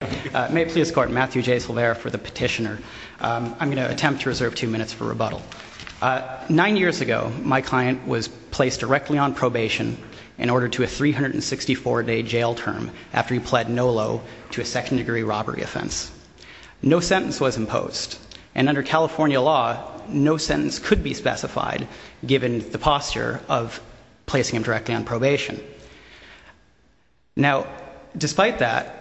May I please escort Matthew J. Silvera for the petitioner? I'm going to attempt to reserve two minutes for rebuttal. Nine years ago, my client was placed directly on probation in order to a 364-day jail term after he pled no low to a second-degree robbery offense. No sentence was imposed, and under California law, no sentence could be specified given the posture of placing him directly on probation. Now, despite that,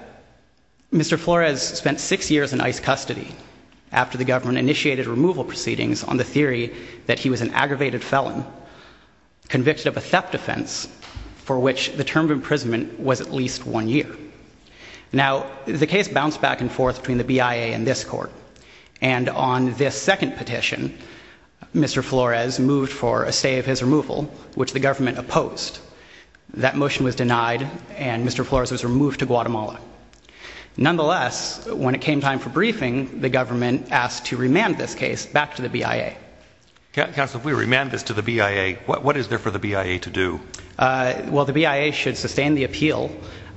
Mr. Flores spent six years in ICE custody after the government initiated removal proceedings on the theory that he was an aggravated felon convicted of a theft offense for which the term of imprisonment was at least one year. Now, the case bounced back and forth between the BIA and this court, and on this second petition, Mr. Flores moved for a stay of his removal, which the government opposed. That motion was denied, and Mr. Flores was removed to Guatemala. Nonetheless, when it came time for briefing, the government asked to remand this case back to the BIA. Counsel, if we remand this to the BIA, what is there for the BIA to do? Well, the BIA should sustain the appeal.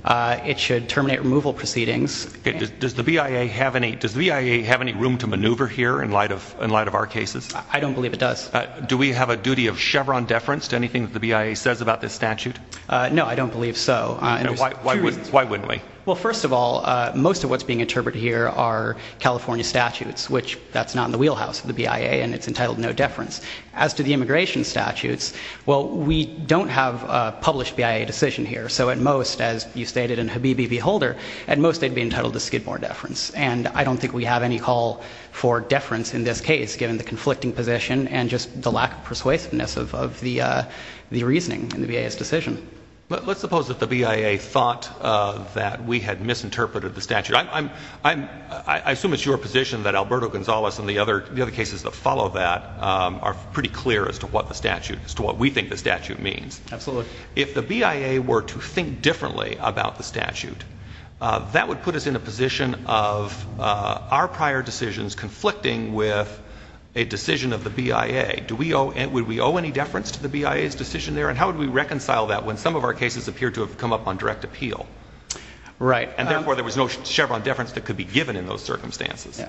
It should terminate removal proceedings. Does the BIA have any room to maneuver here in light of our cases? I don't believe it does. Do we have a duty of Chevron deference to anything that the BIA says about this statute? No, I don't believe so. Why wouldn't we? Well, first of all, most of what's being interpreted here are California statutes, which that's not in the wheelhouse of the BIA, and it's entitled no deference. As to the immigration statutes, well, we don't have a published BIA decision here, so at most, as you stated in Habibi v. Holder, at most they'd be entitled to Skidmore deference. And I don't think we have any call for deference in this case, given the conflicting position and just the lack of persuasiveness of the reasoning in the BIA's decision. Let's suppose that the BIA thought that we had misinterpreted the statute. I assume it's your position that Alberto Gonzalez and the other cases that follow that are pretty clear as to what the statute, as to what we think the statute means. Absolutely. That would put us in a position of our prior decisions conflicting with a decision of the BIA. Would we owe any deference to the BIA's decision there? And how would we reconcile that when some of our cases appear to have come up on direct appeal? Right. And therefore there was no Chevron deference that could be given in those circumstances.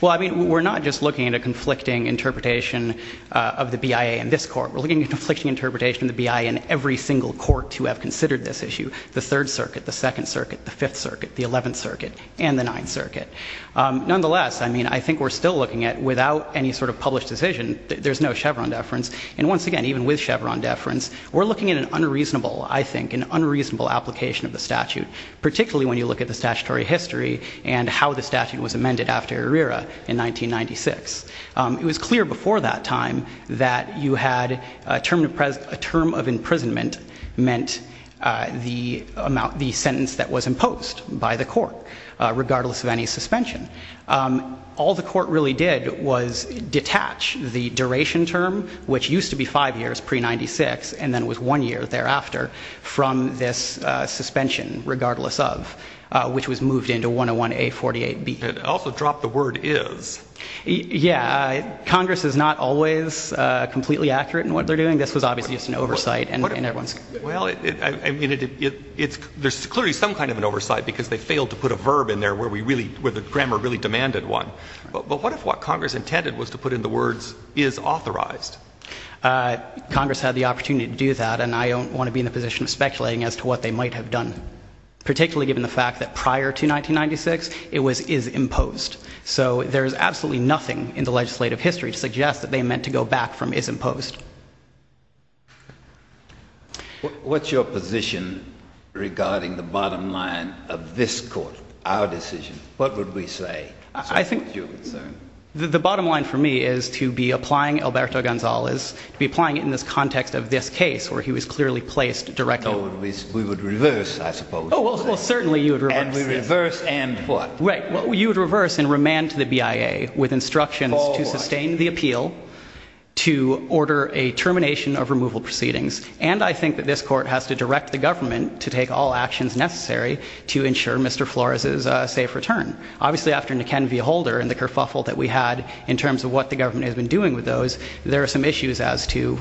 Well, I mean, we're not just looking at a conflicting interpretation of the BIA in this court. We're looking at a conflicting interpretation of the BIA in every single court to have considered this issue. The Third Circuit, the Second Circuit, the Fifth Circuit, the Eleventh Circuit, and the Ninth Circuit. Nonetheless, I mean, I think we're still looking at, without any sort of published decision, there's no Chevron deference. And once again, even with Chevron deference, we're looking at an unreasonable, I think, an unreasonable application of the statute, particularly when you look at the statutory history and how the statute was amended after Herrera in 1996. It was clear before that time that you had a term of imprisonment meant the sentence that was imposed by the court, regardless of any suspension. All the court really did was detach the duration term, which used to be five years pre-'96, and then it was one year thereafter, from this suspension, regardless of, which was moved into 101A48B. It also dropped the word is. Yeah. Congress is not always completely accurate in what they're doing. This was obviously just an oversight. Well, I mean, there's clearly some kind of an oversight because they failed to put a verb in there where the grammar really demanded one. But what if what Congress intended was to put in the words is authorized? Congress had the opportunity to do that, and I don't want to be in the position of speculating as to what they might have done, particularly given the fact that prior to 1996, it was is imposed. So there is absolutely nothing in the legislative history to suggest that they meant to go back from is imposed. What's your position regarding the bottom line of this court, our decision? What would we say? I think the bottom line for me is to be applying Alberto Gonzalez, to be applying it in this context of this case, where he was clearly placed directly. So we would reverse, I suppose. And we reverse and what? Right. You would reverse and remand to the BIA with instructions to sustain the appeal, to order a termination of removal proceedings. And I think that this court has to direct the government to take all actions necessary to ensure Mr. Flores's safe return. Obviously, after McKenna v. Holder and the kerfuffle that we had in terms of what the government has been doing with those, there are some issues as to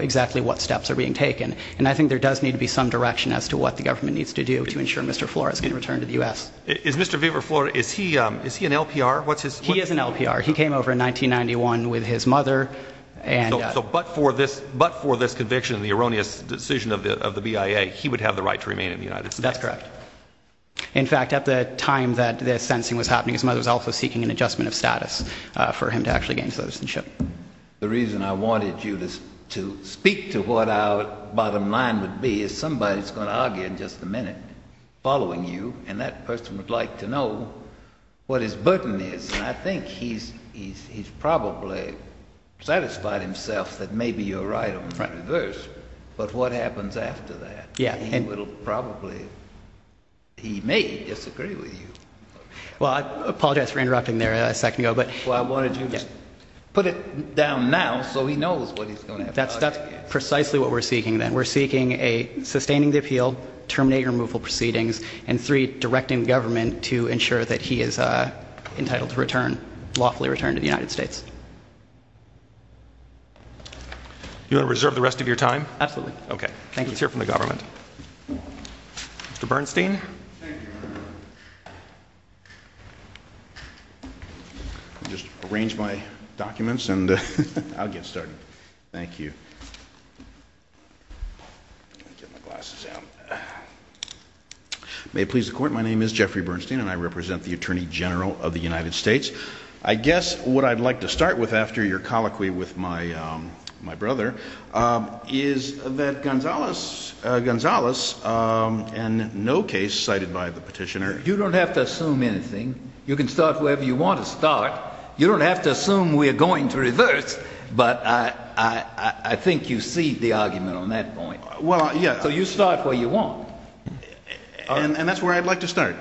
exactly what steps are being taken. And I think there does need to be some direction as to what the government needs to do to ensure Mr. Flores can return to the U.S. Is Mr. Flores, is he an LPR? He is an LPR. He came over in 1991 with his mother. But for this conviction, the erroneous decision of the BIA, he would have the right to remain in the United States. That's correct. In fact, at the time that the sentencing was happening, his mother was also seeking an adjustment of status for him to actually gain citizenship. The reason I wanted you to speak to what our bottom line would be is somebody is going to argue in just a minute, following you, and that person would like to know what his burden is. And I think he's probably satisfied himself that maybe you're right on the front and reverse. But what happens after that? He will probably, he may disagree with you. Well, I apologize for interrupting there a second ago. Well, I wanted you to put it down now so he knows what he's going to have to argue against. That's precisely what we're seeking then. We're seeking a sustaining the appeal, terminating removal proceedings, and three, directing the government to ensure that he is entitled to return, lawfully return to the United States. You want to reserve the rest of your time? Absolutely. Okay. Let's hear from the government. Mr. Bernstein? Thank you, Your Honor. I'll just arrange my documents and I'll get started. Thank you. May it please the Court, my name is Jeffrey Bernstein and I represent the Attorney General of the United States. I guess what I'd like to start with after your colloquy with my brother is that Gonzales, and no case cited by the petitioner... You don't have to assume we're going to reverse, but I think you see the argument on that point. Well, yeah. So you start where you want. And that's where I'd like to start.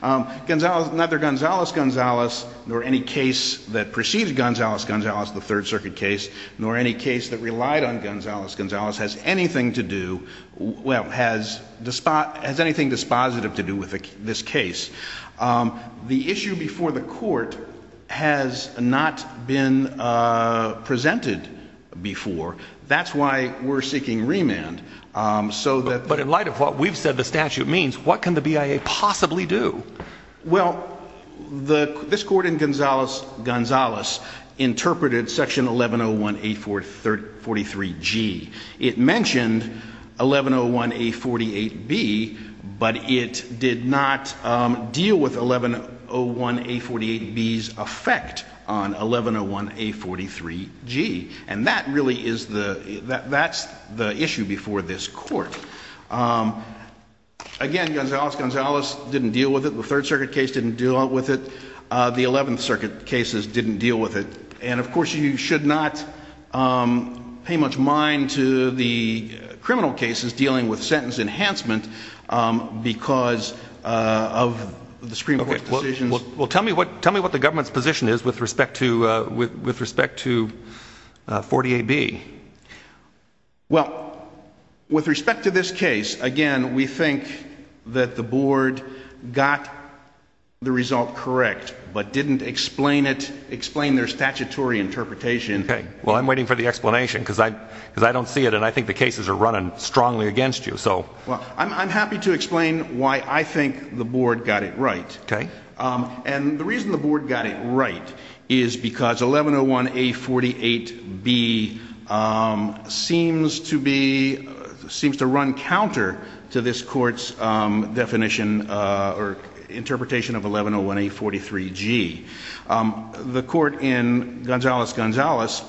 Gonzales, neither Gonzales, Gonzales, nor any case that preceded Gonzales, Gonzales, the Third Circuit case, nor any case that relied on Gonzales, Gonzales, has anything to do, well, has anything dispositive to do with this case. The issue before the Court has not been presented before. That's why we're seeking remand. But in light of what we've said the statute means, what can the BIA possibly do? Well, this Court in Gonzales, Gonzales, interpreted Section 1101A43G. It mentioned 1101A48B, but it did not deal with 1101A48B's effect on 1101A43G. And that really is the, that's the issue before this Court. Again, Gonzales, Gonzales didn't deal with it. The Third Circuit case didn't deal with it. The Eleventh Circuit cases didn't deal with it. And, of course, you should not pay much mind to the criminal cases dealing with sentence enhancement because of the Supreme Court's decisions. Well, tell me what the government's position is with respect to 40AB. Well, with respect to this case, again, we think that the Board got the result correct, but didn't explain it, explain their statutory interpretation. Okay. Well, I'm waiting for the explanation because I don't see it and I think the cases are running strongly against you, so. Well, I'm happy to explain why I think the Board got it right. Okay. And the reason the Board got it right is because 1101A48B seems to be, seems to run counter to this Court's definition or interpretation of 1101A43G. The Court in Gonzales, Gonzales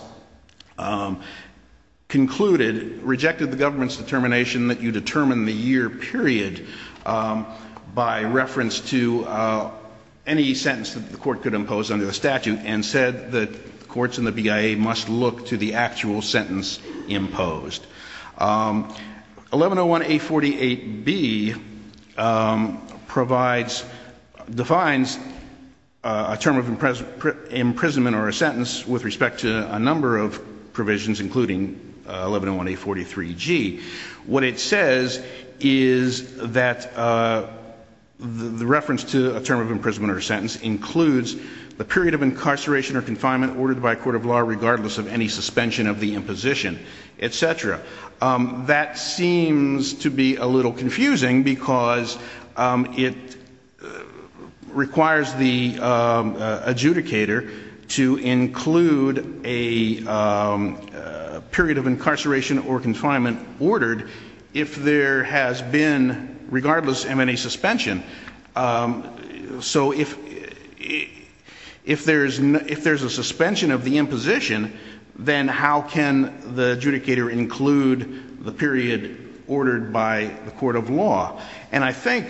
concluded, rejected the government's determination that you determine the year period by reference to any sentence that the Court could impose under the statute and said that courts and the BIA must look to the actual sentence imposed. 1101A48B provides, defines a term of imprisonment or a sentence with respect to a number of provisions, including 1101A43G. What it says is that the reference to a term of imprisonment or a sentence includes the period of incarceration or confinement ordered by a court of law regardless of any suspension of the imposition, etc. That seems to be a little confusing because it requires the adjudicator to include a period of incarceration or confinement ordered if there has been, regardless of any suspension. So if there's a suspension of the imposition, then how can the adjudicator include the period ordered by the court of law? And I think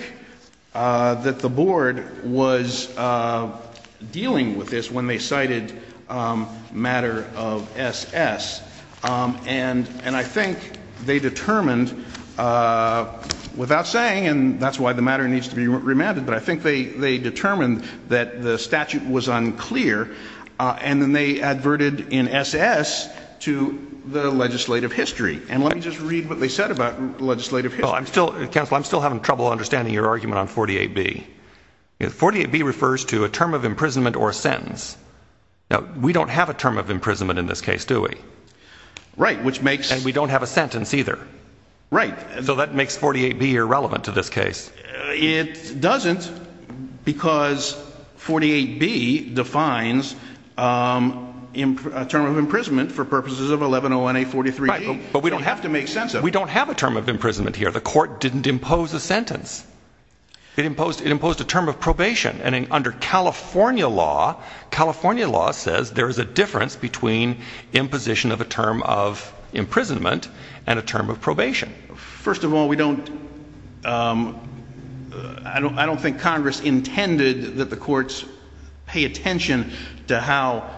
that the Board was dealing with this when they cited matter of SS. And I think they determined without saying, and that's why the matter needs to be remanded, but I think they determined that the statute was unclear. And then they adverted in SS to the legislative history. And let me just read what they said about legislative history. Counsel, I'm still having trouble understanding your argument on 48B. 48B refers to a term of imprisonment or a sentence. Now, we don't have a term of imprisonment in this case, do we? Right, which makes... And we don't have a sentence either. Right. So that makes 48B irrelevant to this case. It doesn't because 48B defines a term of imprisonment for purposes of 1101A43G. Right, but we don't have to make sense of it. The court didn't impose a sentence. It imposed a term of probation. And under California law, California law says there is a difference between imposition of a term of imprisonment and a term of probation. First of all, we don't... I don't think Congress intended that the courts pay attention to how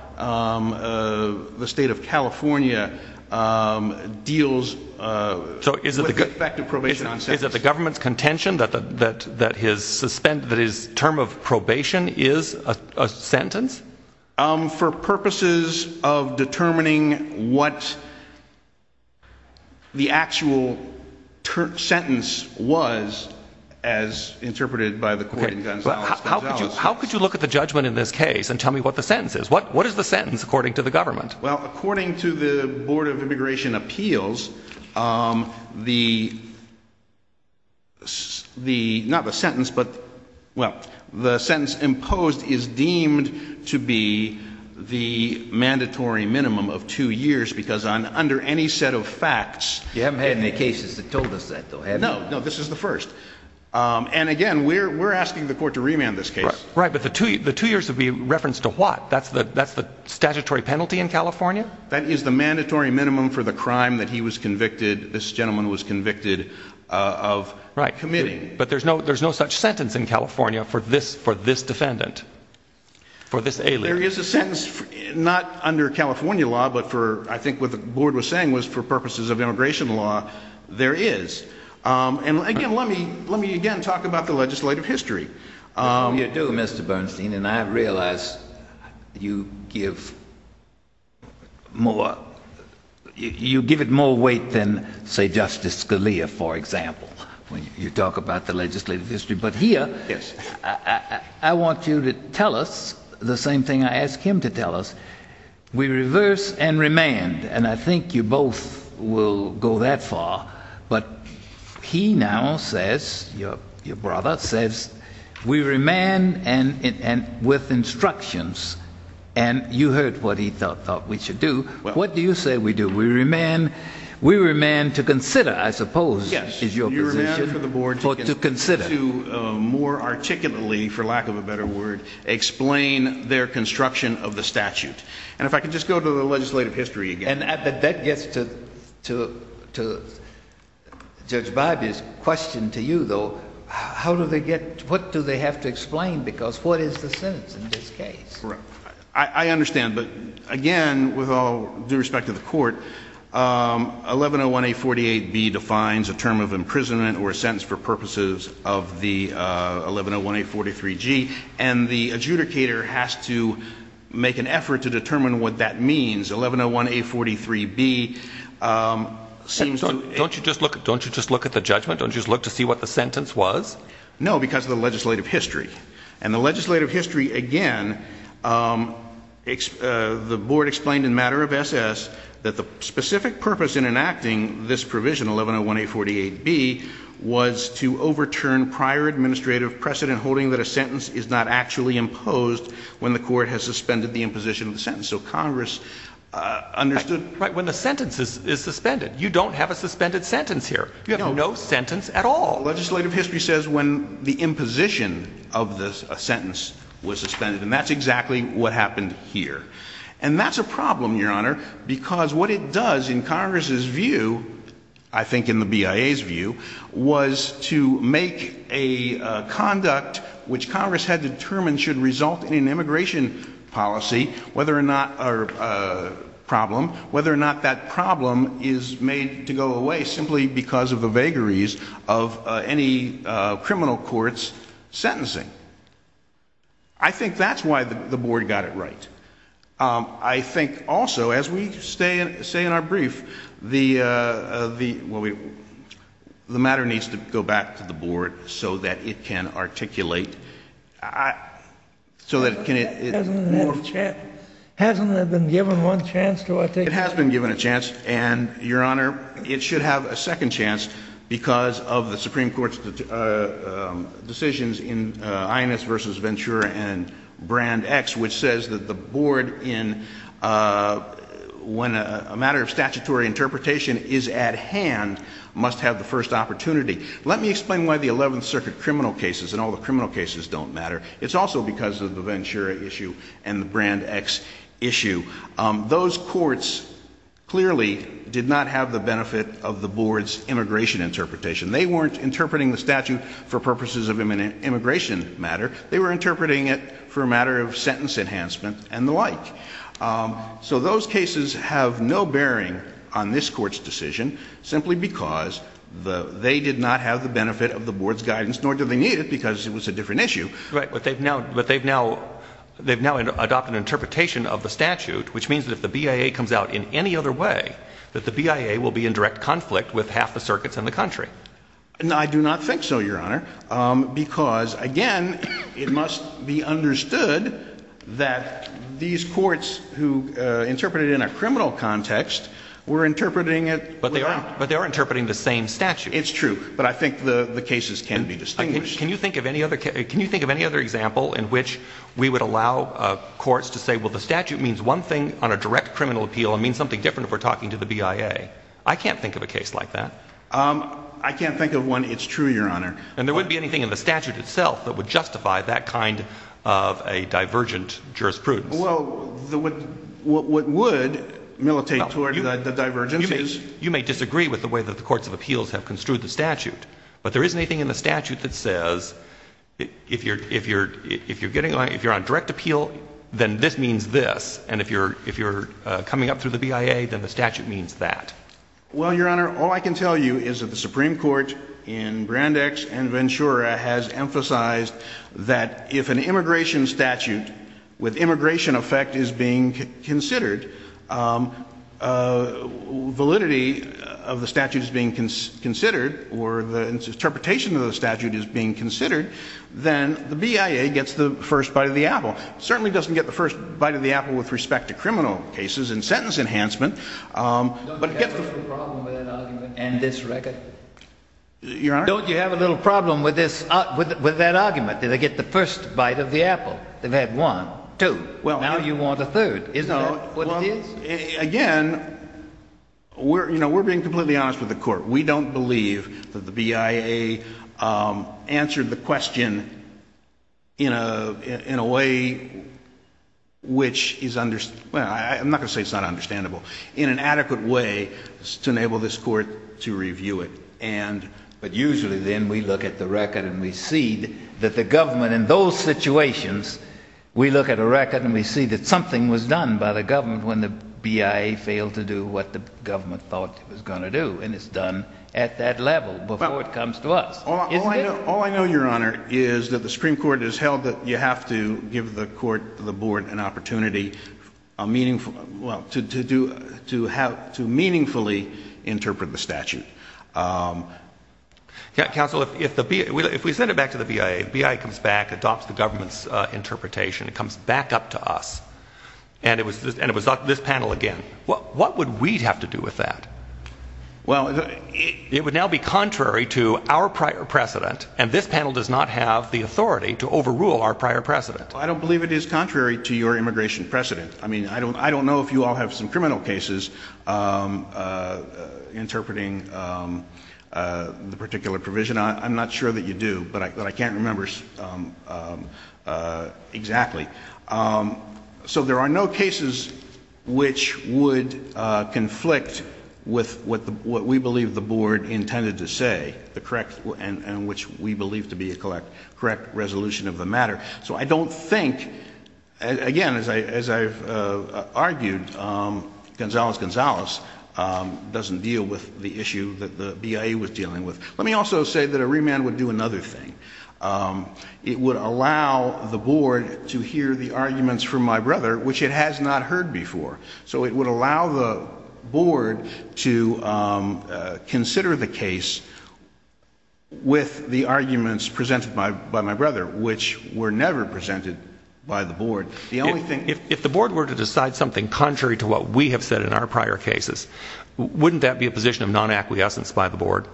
the state of California deals with the effect of probation on sentences. So is it the government's contention that his term of probation is a sentence? For purposes of determining what the actual sentence was as interpreted by the court in Gonzales. How could you look at the judgment in this case and tell me what the sentence is? What is the sentence according to the government? Well, according to the Board of Immigration Appeals, the sentence imposed is deemed to be the mandatory minimum of two years because under any set of facts... You haven't had any cases that told us that, though, have you? No, this is the first. And again, we're asking the court to remand this case. Right, but the two years would be referenced to what? That's the statutory penalty in California? That is the mandatory minimum for the crime that he was convicted, this gentleman was convicted of committing. Right, but there's no such sentence in California for this defendant, for this alien. There is a sentence, not under California law, but for, I think what the board was saying was for purposes of immigration law, there is. And again, let me again talk about the legislative history. You do, Mr. Bernstein, and I realize you give it more weight than, say, Justice Scalia, for example, when you talk about the legislative history. But here, I want you to tell us the same thing I asked him to tell us. We reverse and remand, and I think you both will go that far, but he now says, your brother says, we remand with instructions. And you heard what he thought we should do. What do you say we do? We remand to consider, I suppose, is your position. To more articulately, for lack of a better word, explain their construction of the statute. And if I could just go to the legislative history again. And that gets to Judge Barbee's question to you, though. How do they get, what do they have to explain, because what is the sentence in this case? I understand. But again, with all due respect to the court, 1101A48B defines a term of imprisonment or a sentence for purposes of the 1101A43G. And the adjudicator has to make an effort to determine what that means. 1101A43B seems to – Don't you just look at the judgment? Don't you just look to see what the sentence was? No, because of the legislative history. And the legislative history, again, the board explained in matter of SS that the specific purpose in enacting this provision, 1101A48B, was to overturn prior administrative precedent holding that a sentence is not actually imposed when the court has suspended the imposition of the sentence. So Congress understood – Right. When the sentence is suspended. You don't have a suspended sentence here. You have no sentence at all. Legislative history says when the imposition of the sentence was suspended, and that's exactly what happened here. And that's a problem, Your Honor, because what it does in Congress's view, I think in the BIA's view, was to make a conduct which Congress had determined should result in an immigration policy, whether or not – or a problem, whether or not that problem is made to go away simply because of the vagaries of any criminal court's sentencing. I think that's why the board got it right. I think also, as we say in our brief, the matter needs to go back to the board so that it can articulate – Hasn't it been given one chance to articulate – It has been given a chance. And, Your Honor, it should have a second chance because of the Supreme Court's decisions in INS v. Ventura and Brand X, which says that the board, when a matter of statutory interpretation is at hand, must have the first opportunity. Let me explain why the Eleventh Circuit criminal cases and all the criminal cases don't matter. It's also because of the Ventura issue and the Brand X issue. Those courts clearly did not have the benefit of the board's immigration interpretation. They weren't interpreting the statute for purposes of immigration matter. They were interpreting it for a matter of sentence enhancement and the like. So those cases have no bearing on this court's decision simply because they did not have the benefit of the board's guidance, nor do they need it because it was a different issue. Right, but they've now adopted an interpretation of the statute, which means that if the BIA comes out in any other way, that the BIA will be in direct conflict with half the circuits in the country. I do not think so, Your Honor, because, again, it must be understood that these courts who interpreted it in a criminal context were interpreting it – But they are interpreting the same statute. It's true, but I think the cases can be distinguished. Can you think of any other example in which we would allow courts to say, well, the statute means one thing on a direct criminal appeal and means something different if we're talking to the BIA? I can't think of a case like that. I can't think of one. It's true, Your Honor. And there wouldn't be anything in the statute itself that would justify that kind of a divergent jurisprudence. Well, what would militate toward the divergence is – But there isn't anything in the statute that says if you're on direct appeal, then this means this, and if you're coming up through the BIA, then the statute means that. Well, Your Honor, all I can tell you is that the Supreme Court in Brandeis and Ventura has emphasized that if an immigration statute with immigration effect is being considered, validity of the statute is being considered or the interpretation of the statute is being considered, then the BIA gets the first bite of the apple. It certainly doesn't get the first bite of the apple with respect to criminal cases and sentence enhancement, but it gets the – Don't you have a little problem with that argument in this record? Your Honor? Don't you have a little problem with this – with that argument? Did they get the first bite of the apple? They've had one, two. Well – Now you want a third. Isn't that what it is? Again, we're being completely honest with the court. We don't believe that the BIA answered the question in a way which is – I'm not going to say it's not understandable – in an adequate way to enable this court to review it. But usually then we look at the record and we see that the government in those situations, we look at a record and we see that something was done by the government when the BIA failed to do what the government thought it was going to do, and it's done at that level before it comes to us. Isn't it? All I know, Your Honor, is that the Supreme Court has held that you have to give the court, the board, an opportunity to meaningfully interpret the statute. Counsel, if we send it back to the BIA, the BIA comes back, adopts the government's interpretation, it comes back up to us, and it was this panel again, what would we have to do with that? Well – It would now be contrary to our prior precedent, and this panel does not have the authority to overrule our prior precedent. I don't believe it is contrary to your immigration precedent. I mean, I don't know if you all have some criminal cases interpreting the particular provision. I'm not sure that you do, but I can't remember exactly. So there are no cases which would conflict with what we believe the board intended to say, and which we believe to be a correct resolution of the matter. So I don't think, again, as I've argued, Gonzalez-Gonzalez doesn't deal with the issue that the BIA was dealing with. Let me also say that a remand would do another thing. It would allow the board to hear the arguments from my brother, which it has not heard before. So it would allow the board to consider the case with the arguments presented by my brother, which were never presented by the board. The only thing – If the board were to decide something contrary to what we have said in our prior cases, wouldn't that be a position of non-acquiescence by the board?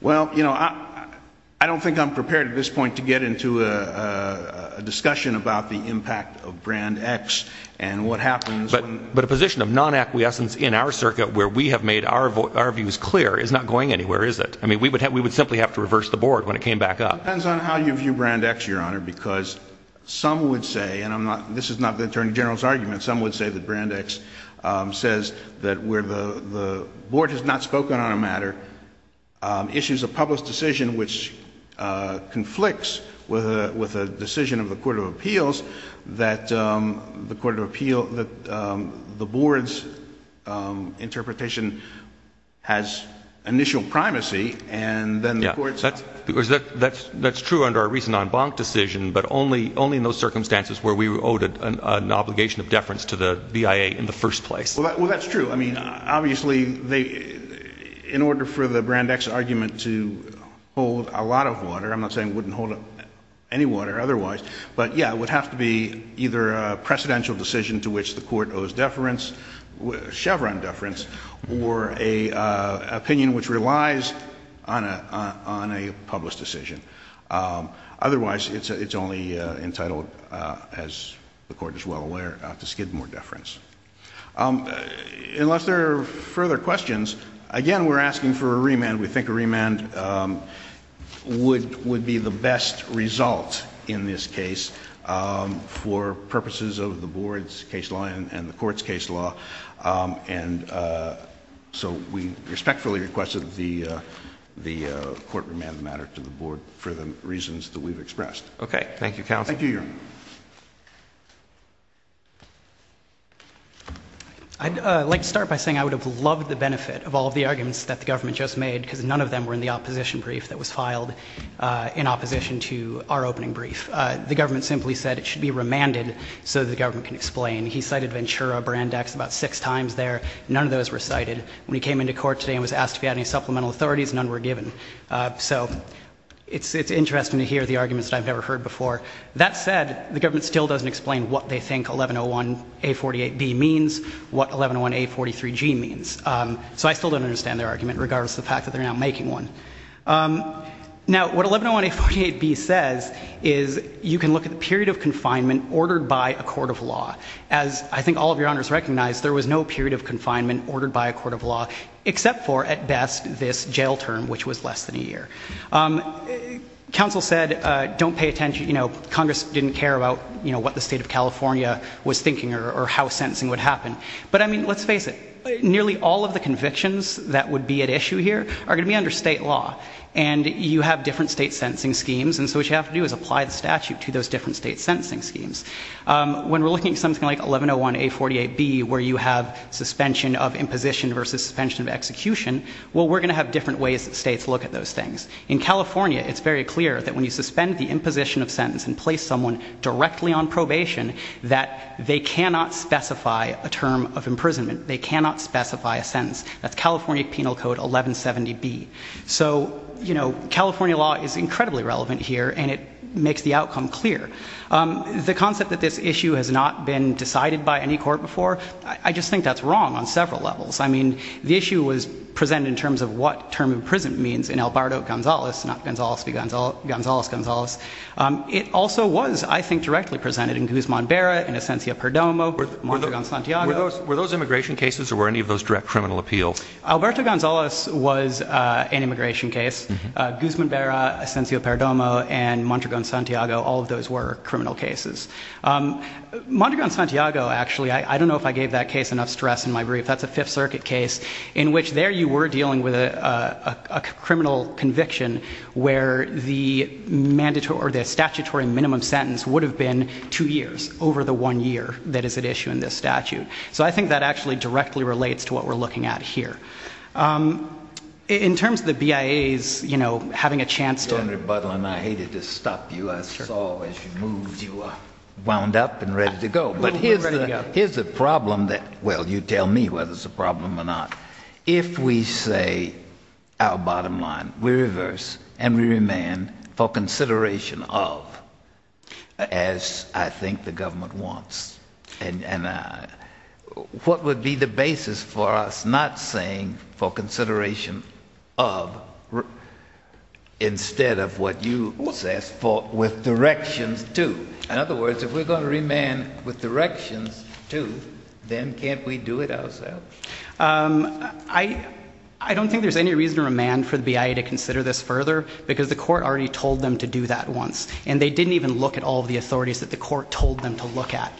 Well, you know, I don't think I'm prepared at this point to get into a discussion about the impact of Brand X and what happens – but a position of non-acquiescence in our circuit where we have made our views clear is not going anywhere, is it? I mean, we would simply have to reverse the board when it came back up. It depends on how you view Brand X, Your Honor, because some would say – and this is not the Attorney General's argument – some would say that Brand X says that where the board has not spoken on a matter, issues a public decision which conflicts with a decision of the Court of Appeals that the board's interpretation has initial primacy, and then the court's – Yeah, that's true under our recent en banc decision, but only in those circumstances where we were owed an obligation of deference to the BIA in the first place. Well, that's true. I mean, obviously, in order for the Brand X argument to hold a lot of water – I'm not saying it wouldn't hold any water otherwise – but, yeah, it would have to be either a precedential decision to which the court owes deference, Chevron deference, or an opinion which relies on a public decision. Otherwise, it's only entitled, as the Court is well aware, to skid more deference. Unless there are further questions, again, we're asking for a remand. We think a remand would be the best result in this case for purposes of the board's case law and the court's case law. And so we respectfully request that the court remand the matter to the board for the reasons that we've expressed. Okay. Thank you, counsel. Thank you, Your Honor. I'd like to start by saying I would have loved the benefit of all of the arguments that the government just made because none of them were in the opposition brief that was filed in opposition to our opening brief. The government simply said it should be remanded so the government can explain. He cited Ventura, Brandeis about six times there. None of those were cited. When he came into court today and was asked if he had any supplemental authorities, none were given. So it's interesting to hear the arguments that I've never heard before. That said, the government still doesn't explain what they think 1101A48B means, what 1101A43G means. So I still don't understand their argument, regardless of the fact that they're now making one. Now, what 1101A48B says is you can look at the period of confinement ordered by a court of law. As I think all of your honors recognize, there was no period of confinement ordered by a court of law except for, at best, this jail term, which was less than a year. Counsel said, don't pay attention, you know, Congress didn't care about, you know, what the state of California was thinking or how sentencing would happen. But, I mean, let's face it, nearly all of the convictions that would be at issue here are going to be under state law. And you have different state sentencing schemes, and so what you have to do is apply the statute to those different state sentencing schemes. When we're looking at something like 1101A48B, where you have suspension of imposition versus suspension of execution, well, we're going to have different ways that states look at those things. In California, it's very clear that when you suspend the imposition of sentence and place someone directly on probation, that they cannot specify a term of imprisonment. They cannot specify a sentence. That's California Penal Code 1170B. So, you know, California law is incredibly relevant here, and it makes the outcome clear. The concept that this issue has not been decided by any court before, I just think that's wrong on several levels. I mean, the issue was presented in terms of what term of imprisonment means in Alberto Gonzales, not Gonzales v. Gonzales. It also was, I think, directly presented in Guzman-Berra, in Asencio-Perdomo, Montregon-Santiago. Were those immigration cases, or were any of those direct criminal appeals? Alberto Gonzales was an immigration case. Guzman-Berra, Asencio-Perdomo, and Montregon-Santiago, all of those were criminal cases. Montregon-Santiago, actually, I don't know if I gave that case enough stress in my brief. That's a Fifth Circuit case in which there you were dealing with a criminal conviction where the statutory minimum sentence would have been two years over the one year that is at issue in this statute. So I think that actually directly relates to what we're looking at here. In terms of the BIAs, you know, having a chance to— Senator Budlin, I hated to stop you. I saw as you moved you wound up and ready to go. But here's the problem that—well, you tell me whether it's a problem or not. If we say our bottom line, we reverse and we remand for consideration of, as I think the government wants. And what would be the basis for us not saying for consideration of instead of what you asked for with directions to? In other words, if we're going to remand with directions to, then can't we do it ourselves? I don't think there's any reason to remand for the BIA to consider this further because the court already told them to do that once. And they didn't even look at all of the authorities that the court told them to look at.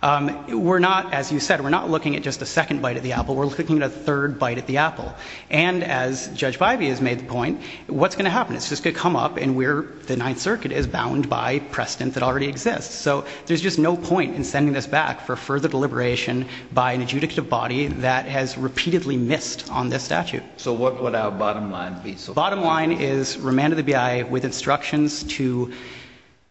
We're not, as you said, we're not looking at just a second bite at the apple. We're looking at a third bite at the apple. And as Judge Bybee has made the point, what's going to happen? It's just going to come up and we're—the Ninth Circuit is bound by precedent that already exists. So there's just no point in sending this back for further deliberation by an adjudicative body that has repeatedly missed on this statute. So what would our bottom line be? Bottom line is remand to the BIA with instructions to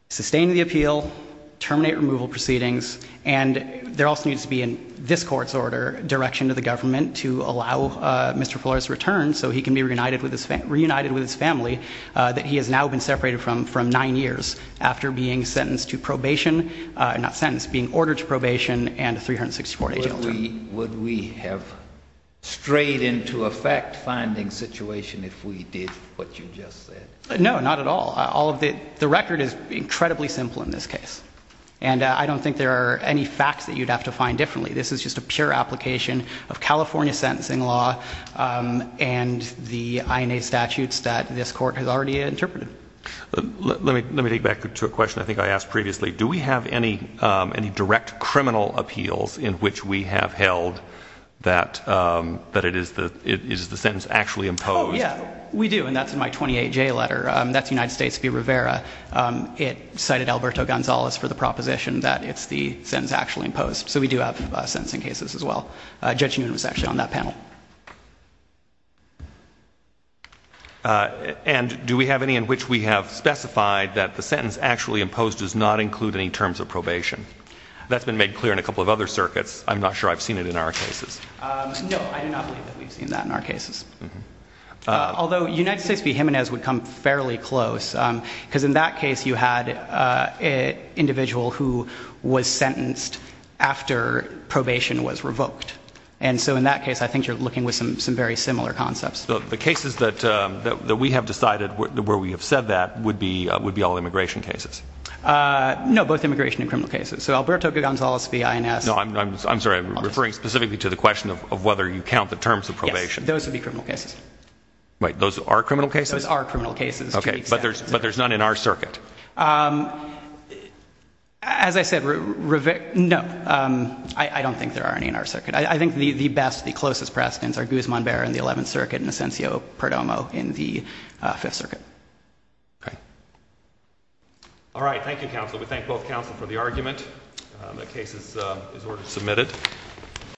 sustain the appeal, terminate removal proceedings, and there also needs to be in this court's order direction to the government to allow Mr. Flores to return so he can be reunited with his family that he has now been separated from nine years after being sentenced to probation—not sentenced, being ordered to probation and a 364-day jail term. Would we have strayed into a fact-finding situation if we did what you just said? No, not at all. All of the—the record is incredibly simple in this case. And I don't think there are any facts that you'd have to find differently. This is just a pure application of California sentencing law and the INA statutes that this court has already interpreted. Let me take back to a question I think I asked previously. Do we have any direct criminal appeals in which we have held that it is the sentence actually imposed? Oh, yeah, we do. And that's in my 28J letter. That's United States v. Rivera. It cited Alberto Gonzalez for the proposition that it's the sentence actually imposed. So we do have sentencing cases as well. Judge Newman was actually on that panel. And do we have any in which we have specified that the sentence actually imposed does not include any terms of probation? That's been made clear in a couple of other circuits. I'm not sure I've seen it in our cases. No, I do not believe that we've seen that in our cases. Although United States v. Jimenez would come fairly close because in that case you had an individual who was sentenced after probation was revoked. And so in that case I think you're looking with some very similar concepts. The cases that we have decided where we have said that would be all immigration cases. No, both immigration and criminal cases. So Alberto Gonzalez v. INS. No, I'm sorry. I'm referring specifically to the question of whether you count the terms of probation. Yes, those would be criminal cases. Wait, those are criminal cases? Those are criminal cases. Okay, but there's none in our circuit. As I said, no. I don't think there are any in our circuit. I think the best, the closest precedents are Guzman-Berra in the Eleventh Circuit and Asencio-Perdomo in the Fifth Circuit. Okay. All right, thank you, counsel. We thank both counsel for the argument. The case is ordered to be submitted.